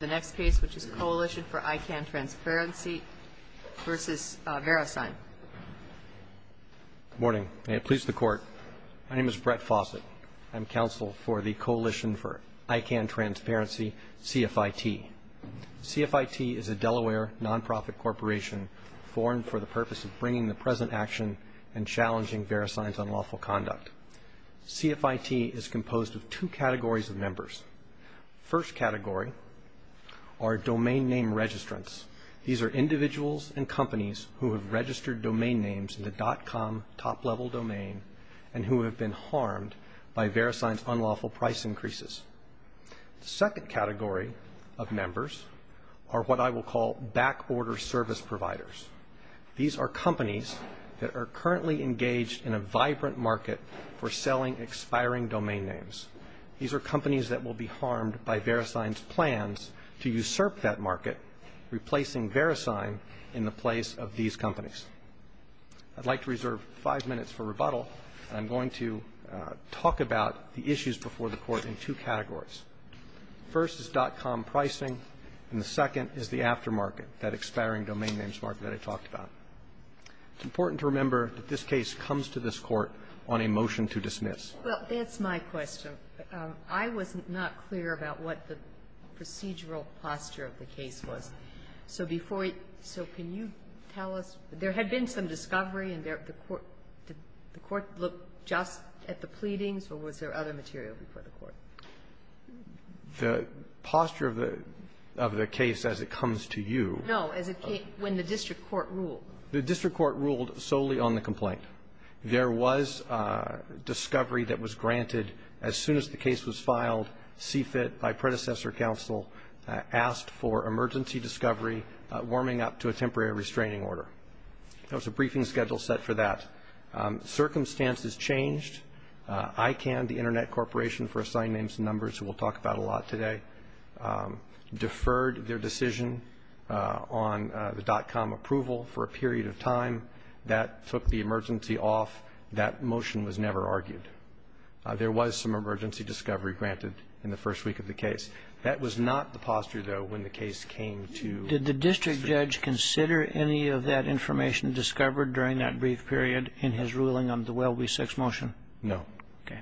The next case, which is Coalition for ICANN Transparency v. Verisign. Good morning. May it please the Court. My name is Brett Fawcett. I'm counsel for the Coalition for ICANN Transparency, CFIT. CFIT is a Delaware nonprofit corporation formed for the purpose of bringing the present action and challenging Verisign's unlawful conduct. CFIT is composed of two categories of members. The first category are domain name registrants. These are individuals and companies who have registered domain names in the .com top-level domain and who have been harmed by Verisign's unlawful price increases. The second category of members are what I will call back-order service providers. These are companies that are currently engaged in a vibrant market for selling expiring domain names. These are companies that will be harmed by Verisign's plans to usurp that market, replacing Verisign in the place of these companies. I'd like to reserve five minutes for rebuttal. I'm going to talk about the issues before the Court in two categories. First is .com pricing, and the second is the aftermarket, that expiring domain names market that I talked about. It's important to remember that this case comes to this Court on a motion to dismiss. Well, that's my question. I was not clear about what the procedural posture of the case was. So before we so can you tell us? There had been some discovery, and the Court looked just at the pleadings, or was there other material before the Court? The posture of the case as it comes to you. No, as it came when the district court ruled. The district court ruled solely on the complaint. There was discovery that was granted as soon as the case was filed. CFIT, my predecessor counsel, asked for emergency discovery, warming up to a temporary restraining order. There was a briefing schedule set for that. Circumstances changed. ICANN, the Internet Corporation for Assigned Names and Numbers, who we'll talk about a lot today, deferred their decision on the .com approval for a period of time. That took the emergency off. That motion was never argued. There was some emergency discovery granted in the first week of the case. That was not the posture, though, when the case came to the district. Did the district judge consider any of that information discovered during that brief period in his ruling on the Welby 6 motion? No. Okay.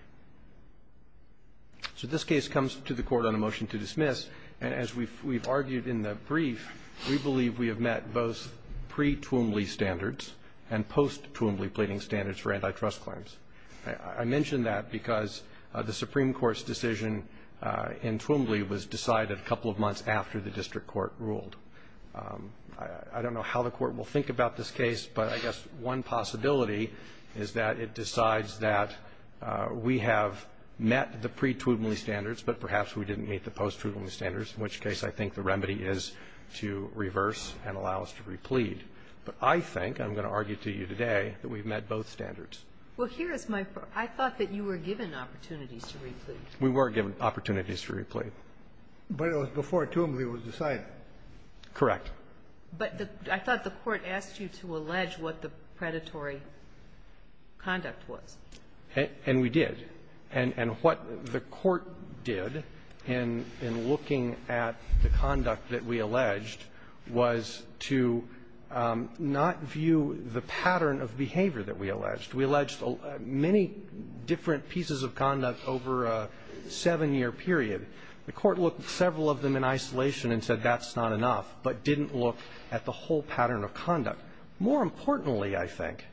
So this case comes to the Court on a motion to dismiss. And as we've argued in the brief, we believe we have met both pre-Twombly standards and post-Twombly pleading standards for antitrust claims. I mention that because the Supreme Court's decision in Twombly was decided a couple of months after the district court ruled. I don't know how the Court will think about this case, but I guess one possibility is that it decides that we have met the pre-Twombly standards, but perhaps we didn't meet the post-Twombly standards, in which case I think the remedy is to reverse and allow us to replead. But I think, I'm going to argue to you today, that we've met both standards. Well, here is my question. I thought that you were given opportunities to replead. We were given opportunities to replead. But it was before Twombly was decided. Correct. But I thought the Court asked you to allege what the predatory conduct was. And we did. And what the Court did in looking at the conduct that we alleged was to not view the pattern of behavior that we alleged. We alleged many different pieces of conduct over a seven-year period. The Court looked at several of them in isolation and said that's not enough, but didn't look at the whole pattern of conduct. More importantly, I think,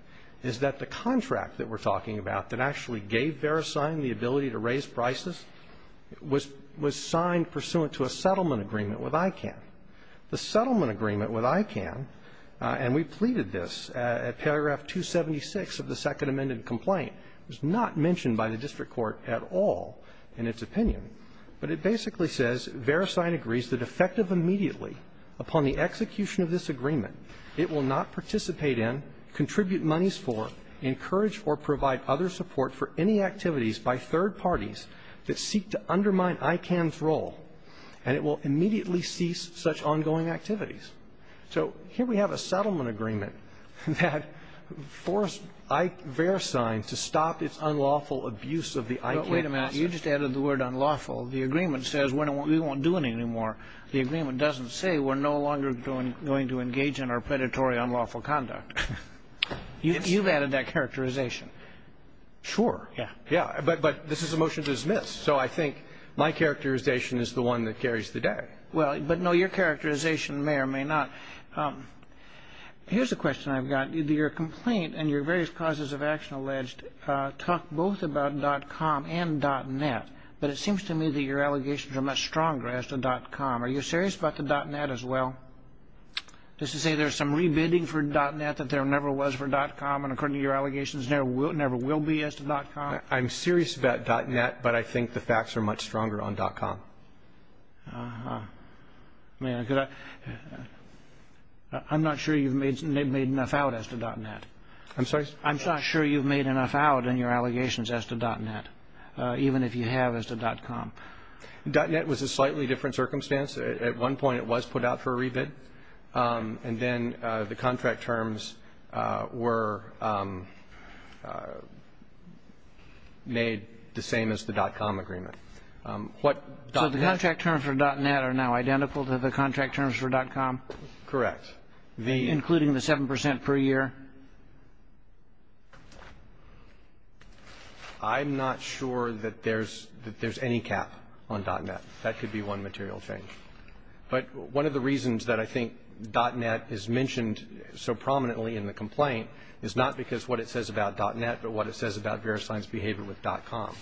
is that the contract that we're talking about that actually gave Verisign the ability to raise prices was signed pursuant to a settlement agreement with ICANN. The settlement agreement with ICANN, and we pleaded this at paragraph 276 of the second amended complaint, was not mentioned by the district court at all in its opinion. But it basically says Verisign agrees that effective immediately upon the execution of this agreement, it will not participate in, contribute monies for, encourage or provide other support for any activities by third parties that seek to undermine ICANN's role, and it will immediately cease such ongoing activities. So here we have a settlement agreement that forced Verisign to stop its unlawful abuse of the ICANN. But wait a minute. You just added the word unlawful. The agreement says we won't do it anymore. The agreement doesn't say we're no longer going to engage in our predatory unlawful conduct. You've added that characterization. Sure. Yeah. Yeah. But this is a motion to dismiss. So I think my characterization is the one that carries the day. Well, but no, your characterization may or may not. Here's a question I've got. Your complaint and your various causes of action alleged talk both about .com and .net, but it seems to me that your allegations are much stronger as to .com. Are you serious about the .net as well? Does this say there's some rebidding for .net that there never was for .com, and according to your allegations, there never will be as to .com? I'm serious about .net, but I think the facts are much stronger on .com. Uh-huh. I mean, because I'm not sure you've made enough out as to .net. I'm sorry? I'm not sure you've made enough out in your allegations as to .net. Even if you have as to .com. .net was a slightly different circumstance. At one point it was put out for a rebid, and then the contract terms were made the same as the .com agreement. So the contract terms for .net are now identical to the contract terms for .com? Correct. Including the 7% per year? I'm not sure that there's any cap on .net. That could be one material change. But one of the reasons that I think .net is mentioned so prominently in the complaint is not because what it says about .net, but what it says about Verisign's behavior with .com.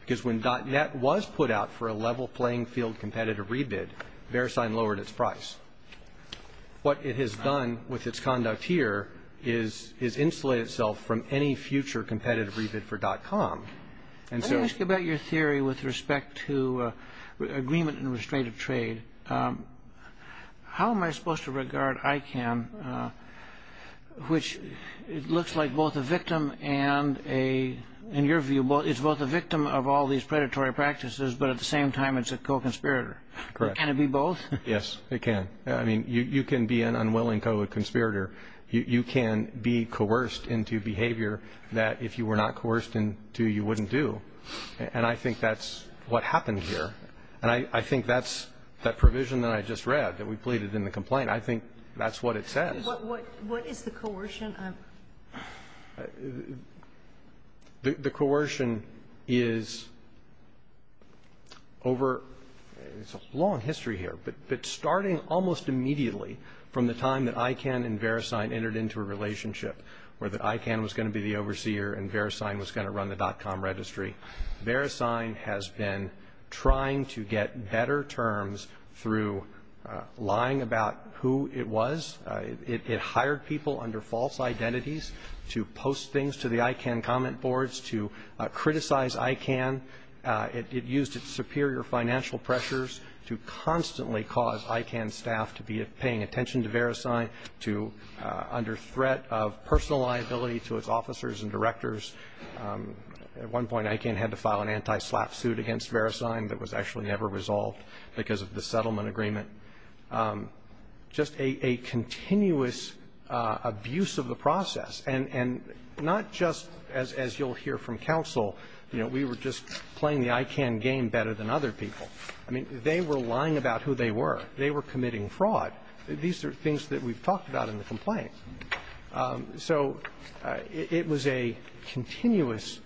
Because when .net was put out for a level playing field competitive rebid, Verisign lowered its price. What it has done with its conduct here is insulate itself from any future competitive rebid for .com. Let me ask you about your theory with respect to agreement in restrictive trade. How am I supposed to regard ICANN, which looks like both a victim and a, in your view, it's both a victim of all these predatory practices, but at the same time it's a co-conspirator. Correct. Can it be both? Yes, it can. I mean, you can be an unwilling co-conspirator. You can be coerced into behavior that if you were not coerced into, you wouldn't do. And I think that's what happened here. And I think that's that provision that I just read that we pleaded in the complaint. I think that's what it says. What is the coercion? The coercion is over, it's a long history here, but starting almost immediately from the time that ICANN and Verisign entered into a relationship where the ICANN was going to be the overseer and Verisign was going to run the .com registry, Verisign has been trying to get better terms through lying about who it was. It hired people under false identities to post things to the ICANN comment boards to criticize ICANN. It used its superior financial pressures to constantly cause ICANN staff to be paying attention to Verisign, to under threat of personal liability to its officers and directors. At one point ICANN had to file an anti-slap suit against Verisign that was actually never resolved because of the settlement agreement. Just a continuous abuse of the process. And not just as you'll hear from counsel, you know, we were just playing the ICANN game better than other people. I mean, they were lying about who they were. They were committing fraud. These are things that we've talked about in the complaint. So it was a continuous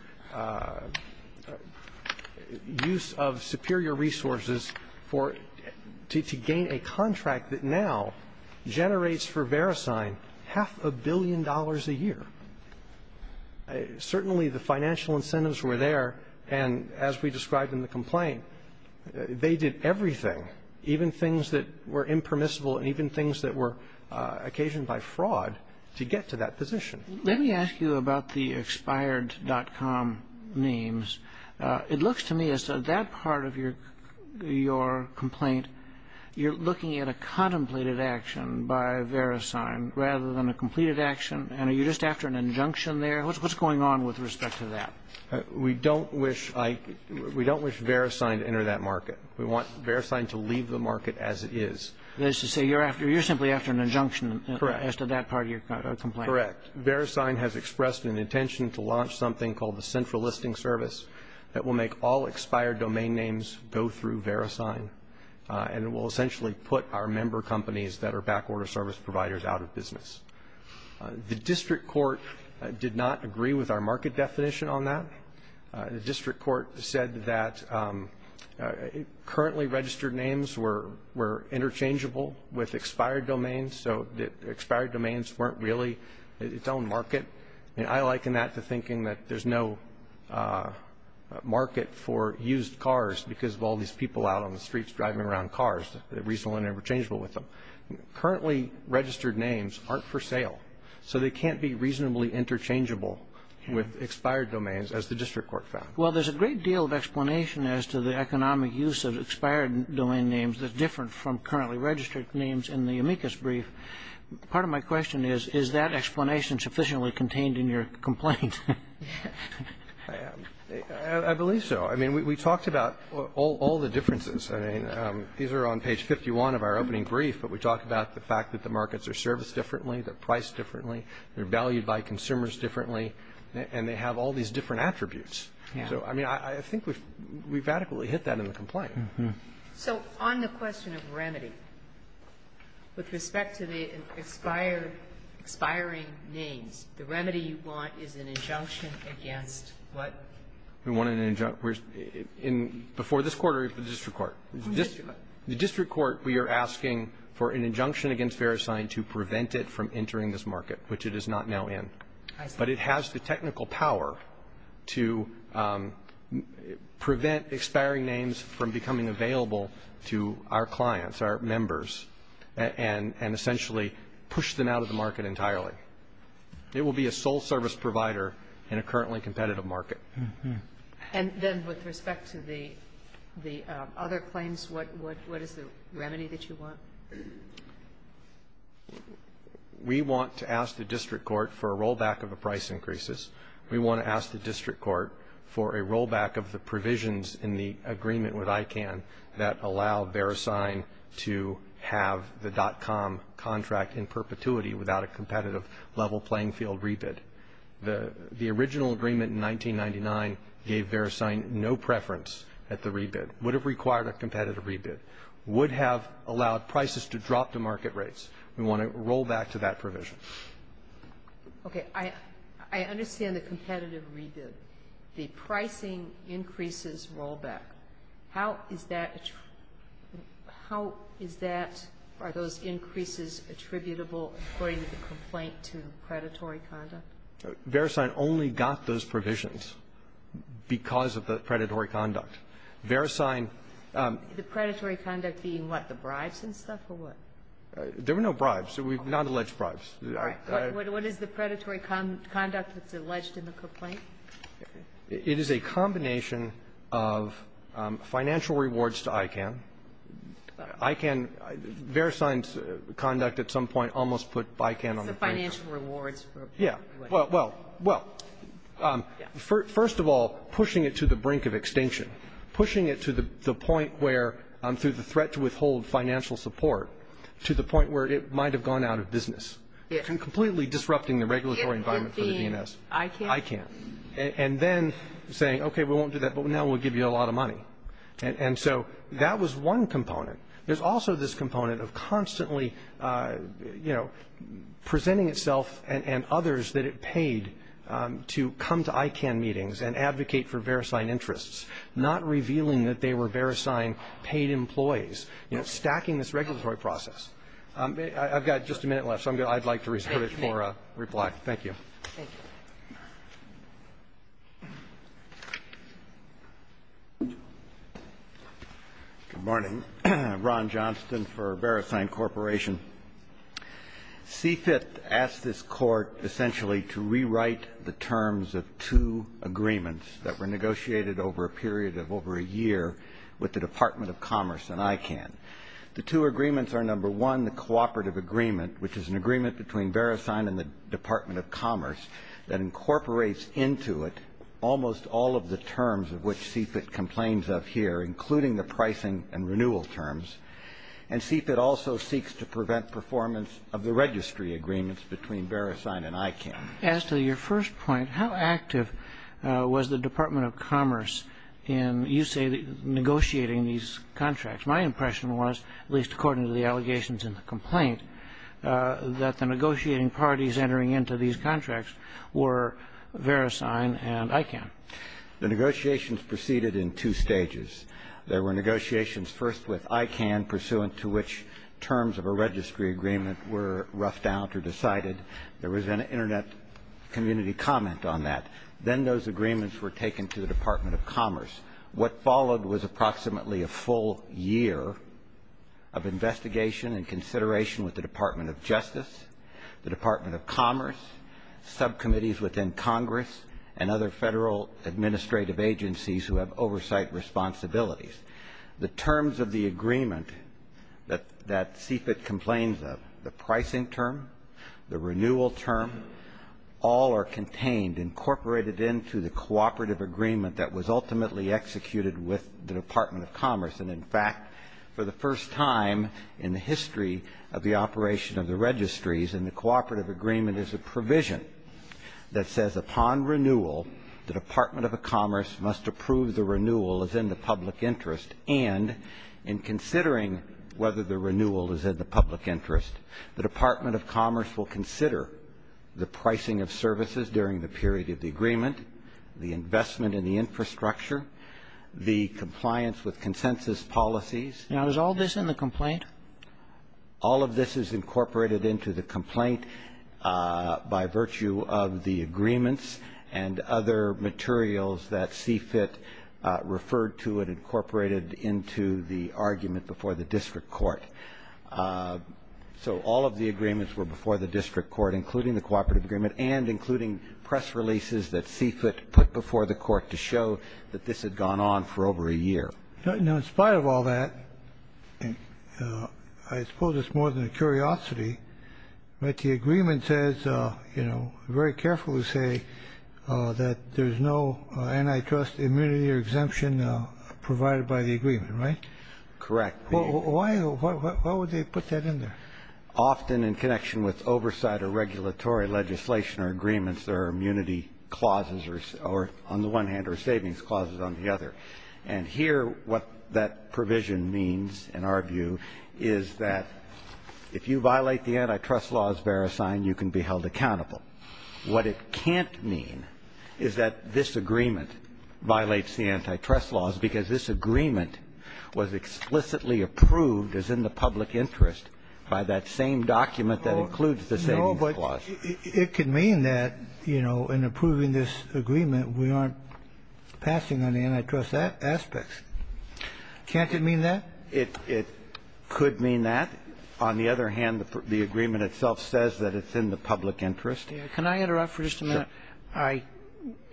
use of superior resources for to gain a contract that now generates for Verisign half a billion dollars a year. Certainly the financial incentives were there, and as we described in the complaint, they did everything, even things that were impermissible and even things that were Let me ask you about the expired.com names. It looks to me as though that part of your complaint, you're looking at a contemplated action by Verisign rather than a completed action. And are you just after an injunction there? What's going on with respect to that? We don't wish Verisign to enter that market. We want Verisign to leave the market as it is. That is to say you're simply after an injunction as to that part of your complaint. Correct. Verisign has expressed an intention to launch something called the Central Listing Service that will make all expired domain names go through Verisign, and it will essentially put our member companies that are backorder service providers out of business. The district court did not agree with our market definition on that. The district court said that currently registered names were interchangeable with expired domains, so that expired domains weren't really its own market. I liken that to thinking that there's no market for used cars because of all these people out on the streets driving around cars that are reasonable and interchangeable with them. Currently registered names aren't for sale, so they can't be reasonably interchangeable with expired domains, as the district court found. Well, there's a great deal of explanation as to the economic use of expired domain names that's different from currently registered names in the amicus brief. Part of my question is, is that explanation sufficiently contained in your complaint? I believe so. I mean, we talked about all the differences. I mean, these are on page 51 of our opening brief, but we talked about the fact that the markets are serviced differently, they're priced differently, they're valued by consumers differently, and they have all these different attributes. So, I mean, I think we've adequately hit that in the complaint. So on the question of remedy, with respect to the expired, expiring names, the remedy you want is an injunction against what? We want an injunction before this Court or the district court? The district court. The district court, we are asking for an injunction against Verisign to prevent it from entering this market, which it is not now in. But it has the technical power to prevent expiring names from becoming available to our clients, our members, and essentially push them out of the market entirely. It will be a sole service provider in a currently competitive market. And then with respect to the other claims, what is the remedy that you want? We want to ask the district court for a rollback of the price increases. We want to ask the district court for a rollback of the provisions in the agreement with ICANN that allow Verisign to have the DOTCOM contract in perpetuity without a competitive level playing field rebid. The original agreement in 1999 gave Verisign no preference at the rebid. Would have required a competitive rebid. Would have allowed prices to drop to market rates. We want a rollback to that provision. Okay. I understand the competitive rebid. The pricing increases rollback. How is that attributable? Verisign only got those provisions because of the predatory conduct. Verisign ---- The predatory conduct being what, the bribes and stuff, or what? There were no bribes. We've not alleged bribes. All right. What is the predatory conduct that's alleged in the complaint? It is a combination of financial rewards to ICANN. ICANN, Verisign's conduct at some point almost put ICANN on the brink. It's the financial rewards. Yeah. Well, first of all, pushing it to the brink of extinction. Pushing it to the point where, through the threat to withhold financial support, to the point where it might have gone out of business. Completely disrupting the regulatory environment for the DNS. ICANN. ICANN. And then saying, okay, we won't do that, but now we'll give you a lot of money. And so that was one component. There's also this component of constantly, you know, presenting itself and others that it paid to come to ICANN meetings and advocate for Verisign interests. Not revealing that they were Verisign paid employees. You know, stacking this regulatory process. I've got just a minute left, so I'd like to reserve it for reply. Thank you. Thank you. Good morning. Ron Johnston for Verisign Corporation. CFIT asked this Court essentially to rewrite the terms of two agreements that were negotiated over a period of over a year with the Department of Commerce and ICANN. The two agreements are, number one, the cooperative agreement, which is an agreement between Verisign and the Department of Commerce, that incorporates into it almost all of the terms of which CFIT complains of here, including the pricing and renewal terms. And CFIT also seeks to prevent performance of the registry agreements between Verisign and ICANN. As to your first point, how active was the Department of Commerce in, you say, negotiating these contracts? My impression was, at least according to the allegations in the complaint, that the negotiating parties entering into these contracts were Verisign and ICANN. The negotiations proceeded in two stages. There were negotiations first with ICANN, pursuant to which terms of a registry agreement were roughed out or decided. There was an Internet community comment on that. Then those agreements were taken to the Department of Commerce. What followed was approximately a full year of investigation and consideration with the Department of Justice, the Department of Commerce, subcommittees within Congress, and other Federal administrative agencies who have oversight responsibilities. The terms of the agreement that CFIT complains of, the pricing term, the renewal term, all are contained, incorporated into the cooperative agreement that was ultimately executed with the Department of Commerce. And, in fact, for the first time in the history of the operation of the registries and the cooperative agreement is a provision that says upon renewal, the Department of Commerce must approve the renewal as in the public interest and in considering whether the renewal is in the public interest, the Department of Commerce will consider the pricing of services during the period of the agreement, the investment in the infrastructure, the compliance with consensus policies. Now, is all this in the complaint? All of this is incorporated into the complaint by virtue of the agreements and other materials that CFIT referred to and incorporated into the argument before the district court. So all of the agreements were before the district court, including the cooperative agreement, and including press releases that CFIT put before the court to show that this had gone on for over a year. Now, in spite of all that, I suppose it's more than a curiosity, but the agreement says, you know, very carefully say that there's no antitrust immunity or exemption provided by the agreement, right? Correct. Why would they put that in there? Often in connection with oversight or regulatory legislation or agreements, there are immunity clauses or on the one hand or savings clauses on the other. And here what that provision means in our view is that if you violate the antitrust laws, Verisign, you can be held accountable. What it can't mean is that this agreement violates the antitrust laws because this agreement was explicitly approved as in the public interest by that same document that includes the savings clause. No, but it could mean that, you know, in approving this agreement, we aren't passing on the antitrust aspects. Can't it mean that? It could mean that. On the other hand, the agreement itself says that it's in the public interest. Can I interrupt for just a minute? Sure.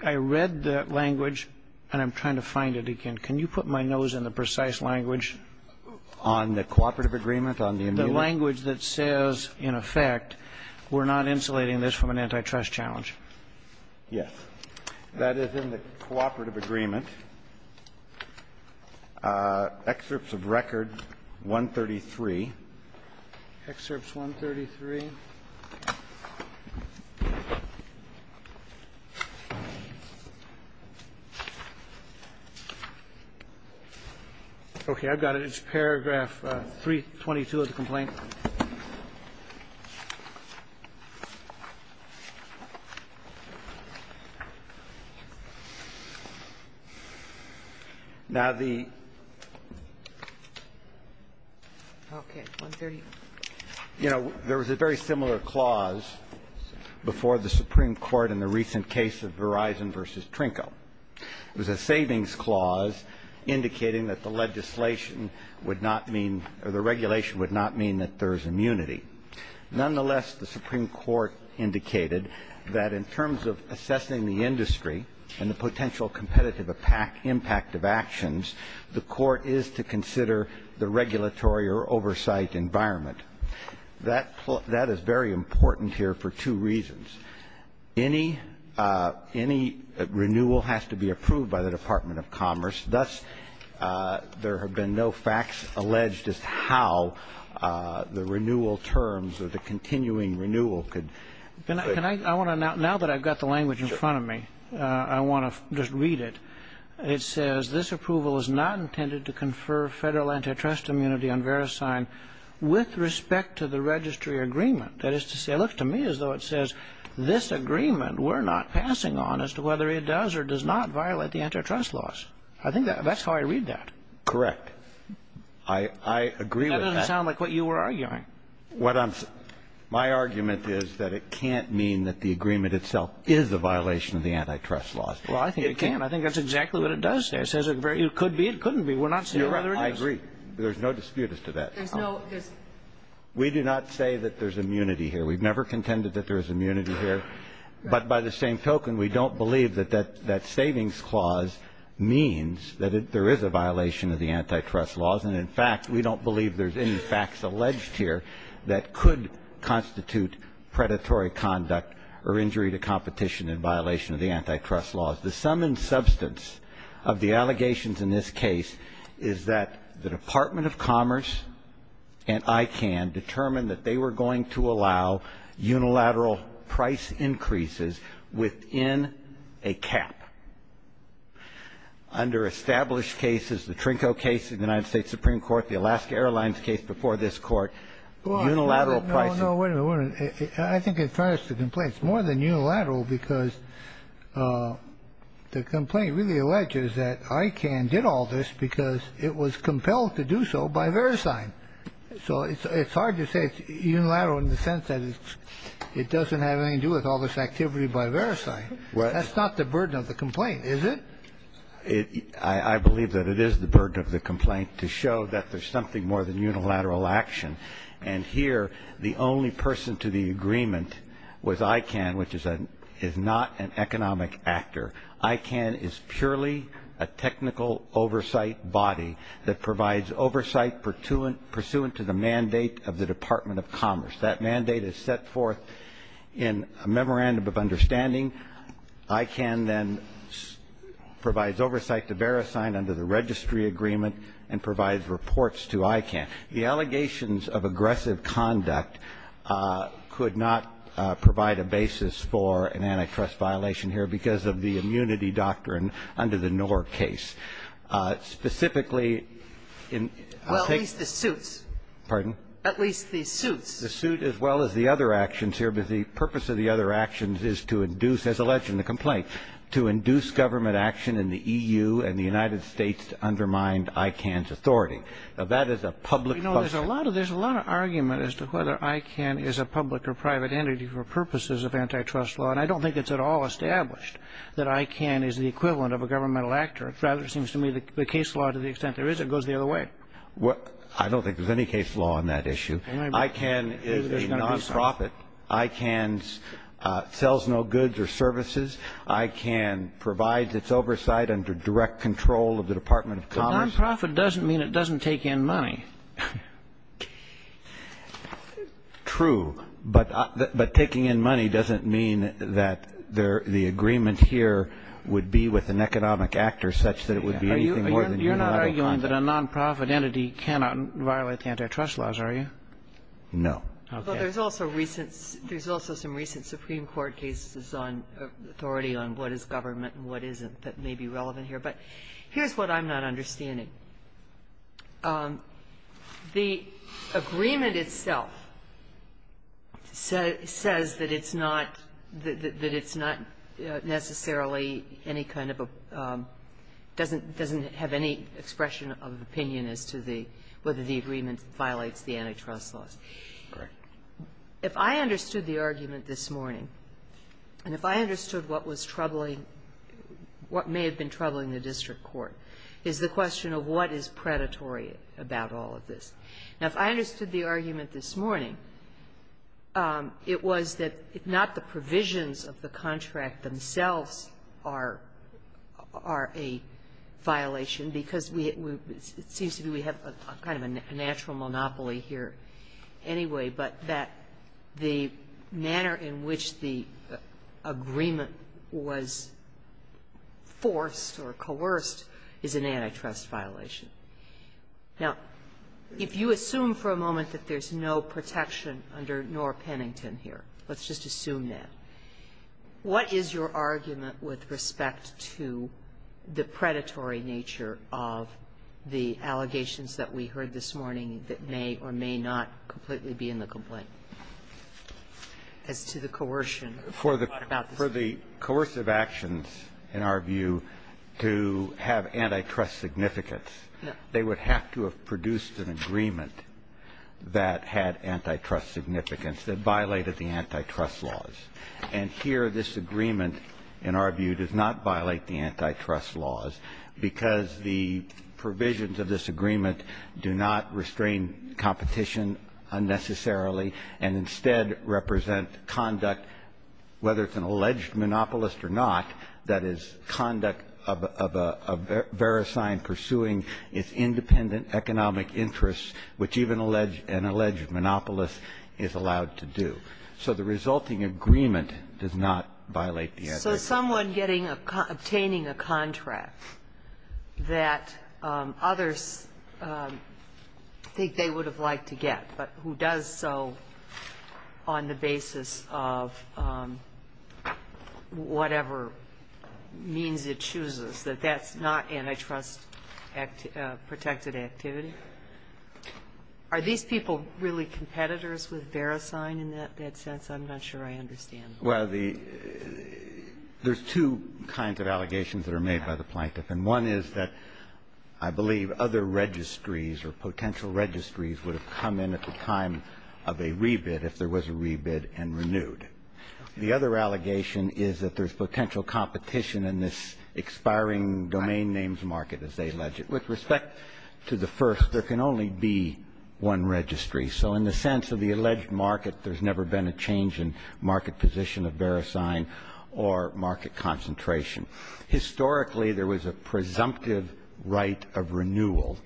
I read the language and I'm trying to find it again. Can you put my nose in the precise language? On the cooperative agreement, on the immunity? The language that says, in effect, we're not insulating this from an antitrust challenge. Yes. That is in the cooperative agreement. Excerpts of record 133. Excerpts 133. Okay. I've got it. It's paragraph 322 of the complaint. Now, the ---- Okay. 130. You know, there was a very similar clause before the Supreme Court in the recent case of Verizon v. Trinco. It was a savings clause indicating that the legislation would not mean or the regulation would not mean that there is immunity. Nonetheless, the Supreme Court indicated that in terms of assessing the industry and the potential competitive impact of actions, the court is to consider the regulatory or oversight environment. That is very important here for two reasons. Any renewal has to be approved by the Department of Commerce. Thus, there have been no facts alleged as to how the renewal terms or the continuing renewal could ---- Now that I've got the language in front of me, I want to just read it. It says, This approval is not intended to confer federal antitrust immunity on VeriSign with respect to the registry agreement. That is to say, look, to me as though it says, This agreement we're not passing on as to whether it does or does not violate the antitrust laws. I think that's how I read that. Correct. I agree with that. That doesn't sound like what you were arguing. What I'm ---- My argument is that it can't mean that the agreement itself is a violation of the antitrust laws. Well, I think it can. I think that's exactly what it does say. It says it could be, it couldn't be. We're not saying whether it is. You're right. I agree. There's no dispute as to that. There's no ---- We do not say that there's immunity here. We've never contended that there's immunity here. But by the same token, we don't believe that that savings clause means that there is a violation of the antitrust laws. And, in fact, we don't believe there's any facts alleged here that could constitute predatory conduct or injury to competition in violation of the antitrust laws. The sum and substance of the allegations in this case is that the Department of Commerce and ICANN determined that they were going to allow unilateral price increases within a cap. Under established cases, the Trinco case in the United States Supreme Court, the Alaska Airlines case before this Court, unilateral prices ---- Well, no, no. Wait a minute. I think in fairness to the complaint, it's more than unilateral because the complaint really alleges that ICANN did all this because it was compelled to do so by Verisign. So it's hard to say it's unilateral in the sense that it doesn't have anything to do with all this activity by Verisign. That's not the burden of the complaint, is it? I believe that it is the burden of the complaint to show that there's something more than unilateral action. And here the only person to the agreement was ICANN, which is not an economic actor. ICANN is purely a technical oversight body that provides oversight pursuant to the mandate of the Department of Commerce. That mandate is set forth in a memorandum of understanding. ICANN then provides oversight to Verisign under the registry agreement and provides reports to ICANN. The allegations of aggressive conduct could not provide a basis for an antitrust violation here because of the immunity doctrine under the Knorr case. Specifically, I think the suit as well as the other actions here. But the purpose of the other actions is to induce, as alleged in the complaint, to induce government action in the EU and the United States to undermine ICANN's authority. Now, that is a public question. You know, there's a lot of argument as to whether ICANN is a public or private entity for purposes of antitrust law. And I don't think it's at all established that ICANN is the equivalent of a governmental actor. Rather, it seems to me the case law to the extent there is, it goes the other way. I don't think there's any case law on that issue. ICANN is a non-profit. ICANN sells no goods or services. ICANN provides its oversight under direct control of the Department of Commerce. Non-profit doesn't mean it doesn't take in money. True. But taking in money doesn't mean that the agreement here would be with an economic actor such that it would be anything more than a non-profit. You're not arguing that a non-profit entity cannot violate the antitrust laws, are you? No. Okay. But there's also recent – there's also some recent Supreme Court cases on authority on what is government and what isn't that may be relevant here. But here's what I'm not understanding. The agreement itself says that it's not – that it's not necessarily any kind of a – doesn't have any expression of opinion as to the – whether the agreement violates the antitrust laws. If I understood the argument this morning, and if I understood what was troubling what may have been troubling the district court is the question of what is predatory about all of this. Now, if I understood the argument this morning, it was that if not the provisions of the contract themselves are a violation, because we – it seems to me we have a kind of a natural monopoly here anyway, but that the manner in which the agreement was forced or coerced is an antitrust violation. Now, if you assume for a moment that there's no protection under Norr Pennington here, let's just assume that, what is your argument with respect to the predatory nature of the allegations that we heard this morning that may or may not completely be in the complaint as to the coercion about this? For the – for the coercive actions, in our view, to have antitrust significance, they would have to have produced an agreement that had antitrust significance, that violated the antitrust laws. And here this agreement, in our view, does not violate the antitrust laws because the provisions of this agreement do not restrain competition unnecessarily and instead represent conduct, whether it's an alleged monopolist or not, that is, conduct of a verisign pursuing its independent economic interests, which even an alleged monopolist is allowed to do. So the resulting agreement does not violate the antitrust laws. So someone getting a – obtaining a contract that others think they would have liked to get, but who does so on the basis of whatever means it chooses, that that's not antitrust-protected activity, are these people really competitors with verisign in that sense? I'm not sure I understand. Well, the – there's two kinds of allegations that are made by the plaintiff. And one is that I believe other registries or potential registries would have come in at the time of a rebid if there was a rebid and renewed. The other allegation is that there's potential competition in this expiring domain names market as they allege it. With respect to the first, there can only be one registry. So in the sense of the alleged market, there's never been a change in market position of verisign or market concentration. Historically, there was a presumptive right of renewal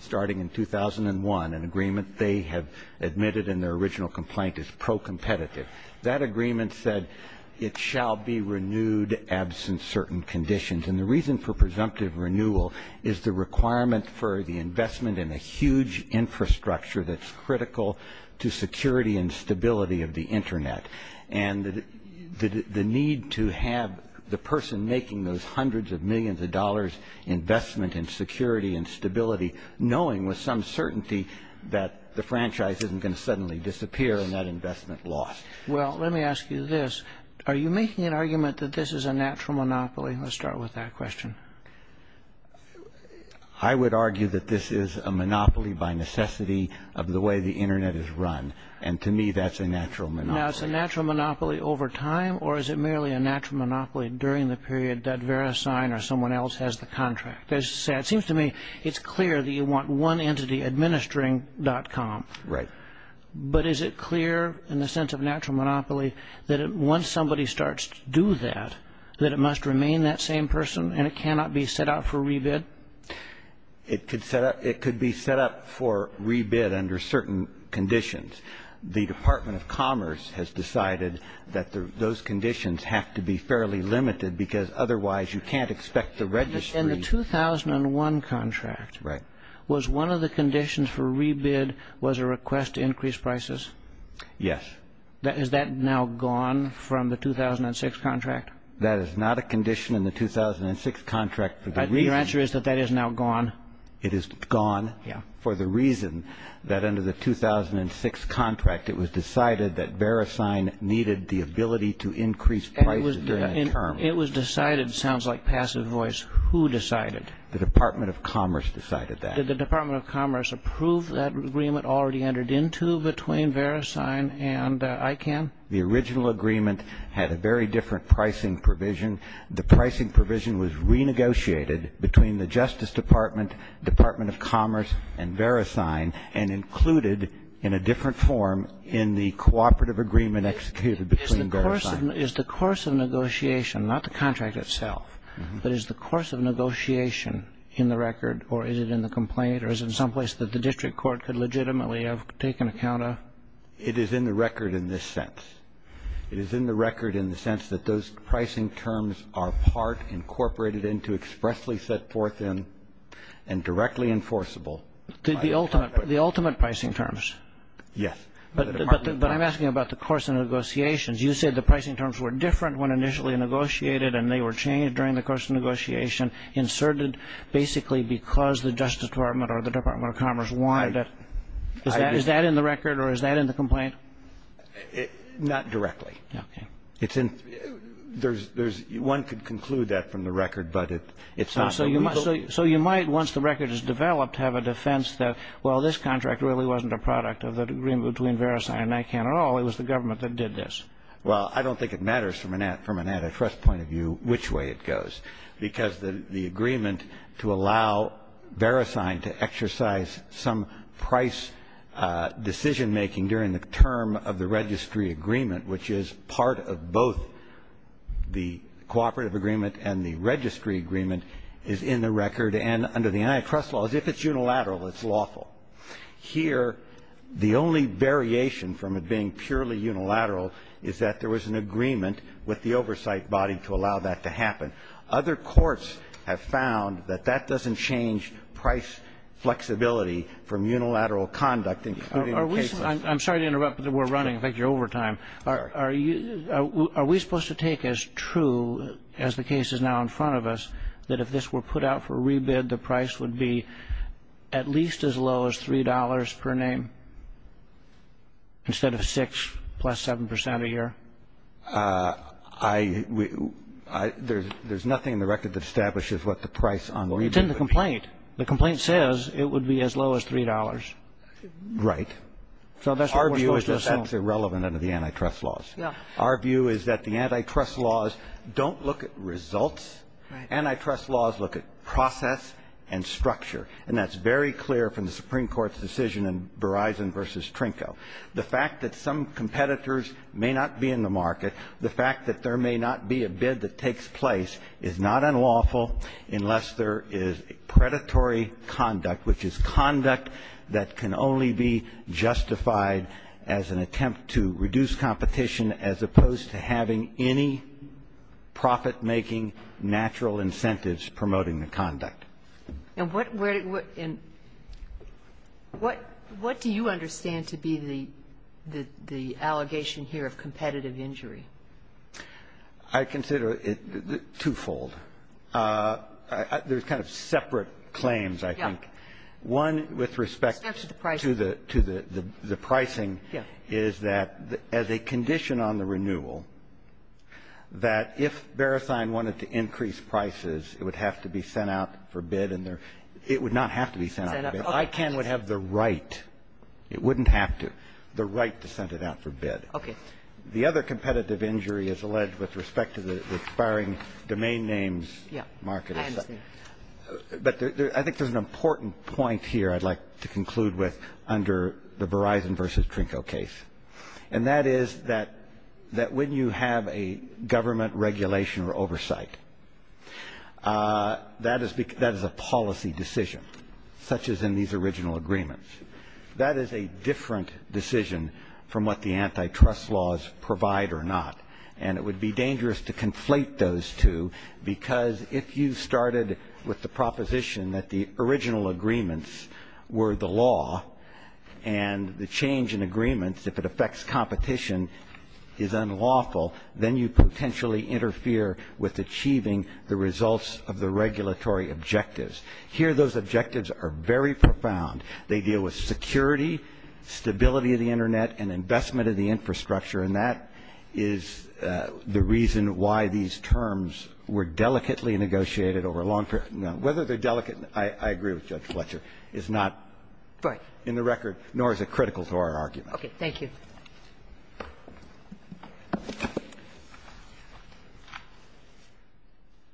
starting in 2001, an agreement they have admitted in their original complaint is pro-competitive. That agreement said it shall be renewed absent certain conditions. And the reason for presumptive renewal is the requirement for the investment in a huge infrastructure that's critical to security and stability of the Internet and the need to have the person making those hundreds of millions of dollars investment in security and stability knowing with some certainty that the franchise isn't going to suddenly disappear and that investment lost. Well, let me ask you this. Are you making an argument that this is a natural monopoly? Let's start with that question. I would argue that this is a monopoly by necessity of the way the Internet is run. And to me, that's a natural monopoly. Now, it's a natural monopoly over time or is it merely a natural monopoly during the period that verisign or someone else has the contract? As you say, it seems to me it's clear that you want one entity administering dot com. Right. But is it clear in the sense of natural monopoly that once somebody starts to do that, that it must remain that same person and it cannot be set up for rebid? It could be set up for rebid under certain conditions. The Department of Commerce has decided that those conditions have to be fairly limited because otherwise you can't expect the registry. In the 2001 contract, was one of the conditions for rebid was a request to increase prices? Yes. Is that now gone from the 2006 contract? That is not a condition in the 2006 contract. Your answer is that that is now gone? It is gone for the reason that under the 2006 contract, it was decided that verisign needed the ability to increase prices during a term. It was decided, sounds like passive voice, who decided? The Department of Commerce decided that. Did the Department of Commerce approve that agreement already entered into between verisign and ICANN? The original agreement had a very different pricing provision. The pricing provision was renegotiated between the Justice Department, Department of Commerce, and verisign and included in a different form in the cooperative agreement executed between verisign. Is the course of negotiation, not the contract itself, but is the course of negotiation in the record or is it in the complaint or is it in some place that the district court could legitimately have taken account of? It is in the record in this sense. It is in the record in the sense that those pricing terms are part incorporated into, expressly set forth in, and directly enforceable. The ultimate pricing terms? Yes. But I'm asking about the course of negotiations. You said the pricing terms were different when initially negotiated and they were changed during the course of negotiation, inserted basically because the Justice Department or the Department of Commerce wanted it. Is that in the record or is that in the complaint? Not directly. Okay. One could conclude that from the record, but it's not. So you might, once the record is developed, have a defense that, well, this contract really wasn't a product of the agreement between verisign and ICANN at all. It was the government that did this. Well, I don't think it matters from an antitrust point of view which way it goes, because the agreement to allow verisign to exercise some price decision-making during the term of the registry agreement, which is part of both the cooperative agreement and the registry agreement, is in the record and under the antitrust laws. If it's unilateral, it's lawful. Here, the only variation from it being purely unilateral is that there was an agreement with the oversight body to allow that to happen. Other courts have found that that doesn't change price flexibility from unilateral conduct, including in cases of the law. I'm sorry to interrupt, but we're running. I think you're over time. Are we supposed to take as true as the case is now in front of us that if this were put out for a rebid, the price would be at least as low as $3 per name instead of 6 plus 7 percent a year? There's nothing in the record that establishes what the price on the rebid would be. Well, it's in the complaint. The complaint says it would be as low as $3. Right. So that's what we're supposed to assume. That's irrelevant under the antitrust laws. Our view is that the antitrust laws don't look at results. Right. Antitrust laws look at process and structure. And that's very clear from the Supreme Court's decision in Verizon v. Trinco. The fact that some competitors may not be in the market, the fact that there may not be a bid that takes place is not unlawful unless there is predatory conduct, which is conduct that can only be justified as an attempt to reduce competition as opposed to having any profit-making natural incentives promoting the conduct. And what do you understand to be the allegation here of competitive injury? I consider it twofold. There's kind of separate claims, I think. Yes. One, with respect to the pricing, is that as a condition on the renewal, that if Verizon wanted to increase prices, it would have to be sent out for bid, and it would not have to be sent out for bid. ICANN would have the right. It wouldn't have to. The right to send it out for bid. Okay. The other competitive injury is alleged with respect to the expiring domain names market. I understand. But I think there's an important point here I'd like to conclude with under the Verizon versus Trinco case. And that is that when you have a government regulation or oversight, that is a policy decision, such as in these original agreements. That is a different decision from what the antitrust laws provide or not. And it would be dangerous to conflate those two, because if you started with the proposition that the original agreements were the law, and the change in agreements, if it affects competition, is unlawful, then you potentially interfere with achieving the results of the regulatory objectives. Here those objectives are very profound. They deal with security, stability of the Internet, and investment of the infrastructure. And that is the reason why these terms were delicately negotiated over a long period of time. Now, whether they're delicate, I agree with Judge Fletcher, is not in the record, nor is it critical to our argument. Okay. Thank you.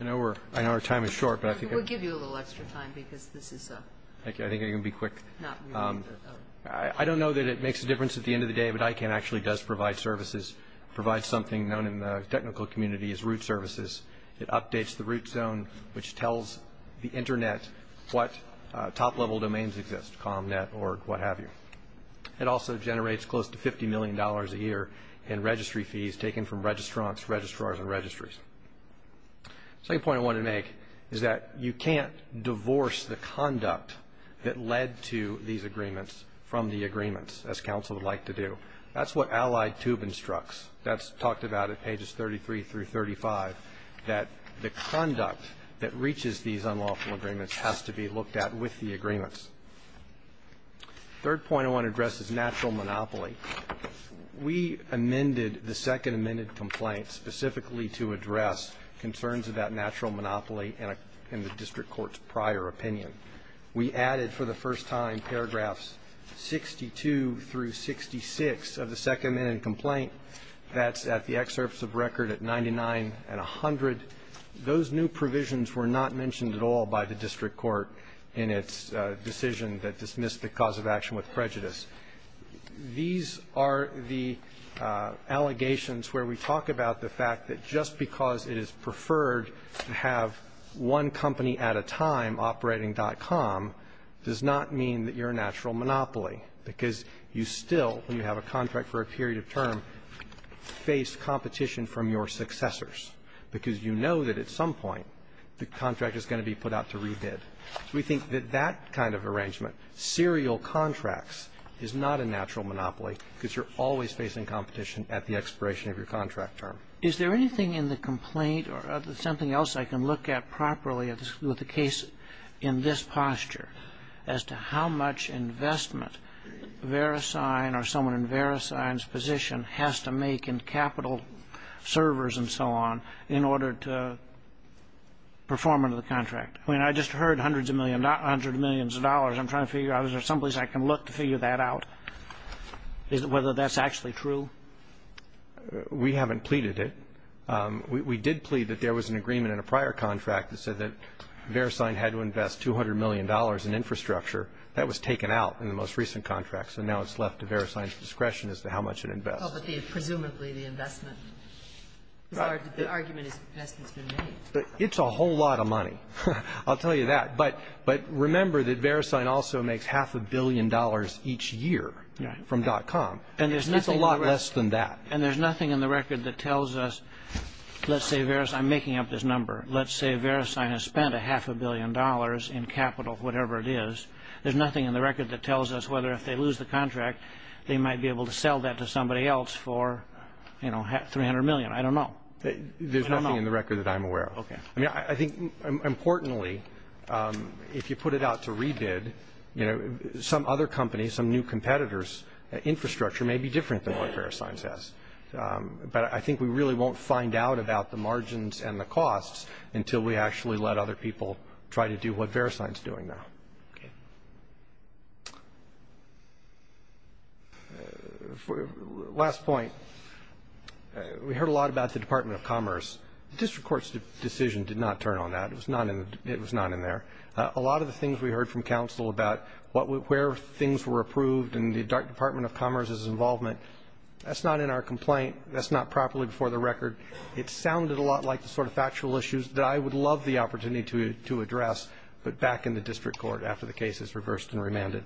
I know our time is short, but I think I'm going to be quick. I don't know that it makes a difference at the end of the day, but ICANN actually does provide services, provides something known in the technical community as root services. It updates the root zone, which tells the Internet what top-level domains exist, com, net, org, what have you. It also generates close to $50 million a year in registry fees taken from registrants, registrars, and registries. The second point I want to make is that you can't divorce the conduct that led to these agreements from the agreements, as counsel would like to do. That's what Allied Tube instructs. That's talked about at pages 33 through 35, that the conduct that reaches these unlawful agreements has to be looked at with the agreements. Third point I want to address is natural monopoly. We amended the second amended complaint specifically to address concerns about natural monopoly and the district court's prior opinion. We added for the first time paragraphs 62 through 66 of the second amended complaint that's at the excerpts of record at 99 and 100. Those new provisions were not mentioned at all by the district court in its decision that dismissed the cause of action with prejudice. These are the allegations where we talk about the fact that just because it is preferred to have one company at a time operating.com does not mean that you're a natural monopoly, because you still, when you have a contract for a period of term, face competition from your successors, because you know that at some point the contract is going to be put out to rebid. We think that that kind of arrangement, serial contracts, is not a natural monopoly because you're always facing competition at the expiration of your contract term. Is there anything in the complaint or something else I can look at properly with the case in this posture as to how much investment Verisign or someone in Verisign's position has to make in capital servers and so on in order to perform under the contract? I mean, I just heard hundreds of millions of dollars. I'm trying to figure out if there's someplace I can look to figure that out, whether that's actually true. We haven't pleaded it. We did plead that there was an agreement in a prior contract that said that Verisign had to invest $200 million in infrastructure. That was taken out in the most recent contract, so now it's left to Verisign's discretion as to how much it invests. Presumably the investment, the argument is investment's been made. It's a whole lot of money. I'll tell you that. But remember that Verisign also makes half a billion dollars each year from .com, and it's a lot less than that. And there's nothing in the record that tells us, let's say Verisign, I'm making up this number, let's say Verisign has spent a half a billion dollars in capital, whatever it is, there's nothing in the record that tells us whether if they lose the contract they might be able to sell that to somebody else for $300 million. I don't know. There's nothing in the record that I'm aware of. Okay. I mean, I think importantly, if you put it out to Rebid, some other company, some new competitor's infrastructure may be different than what Verisign says. But I think we really won't find out about the margins and the costs until we actually let other people try to do what Verisign's doing now. Okay. Last point. We heard a lot about the Department of Commerce. The district court's decision did not turn on that. It was not in there. A lot of the things we heard from counsel about where things were approved and the Department of Commerce's involvement, that's not in our complaint. That's not properly before the record. It sounded a lot like the sort of factual issues that I would love the opportunity to address, but back in the district court after the case is reversed and remanded.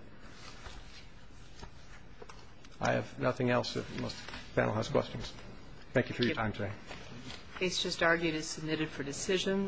I have nothing else if the panel has questions. Thank you for your time today. The case just argued is submitted for decision.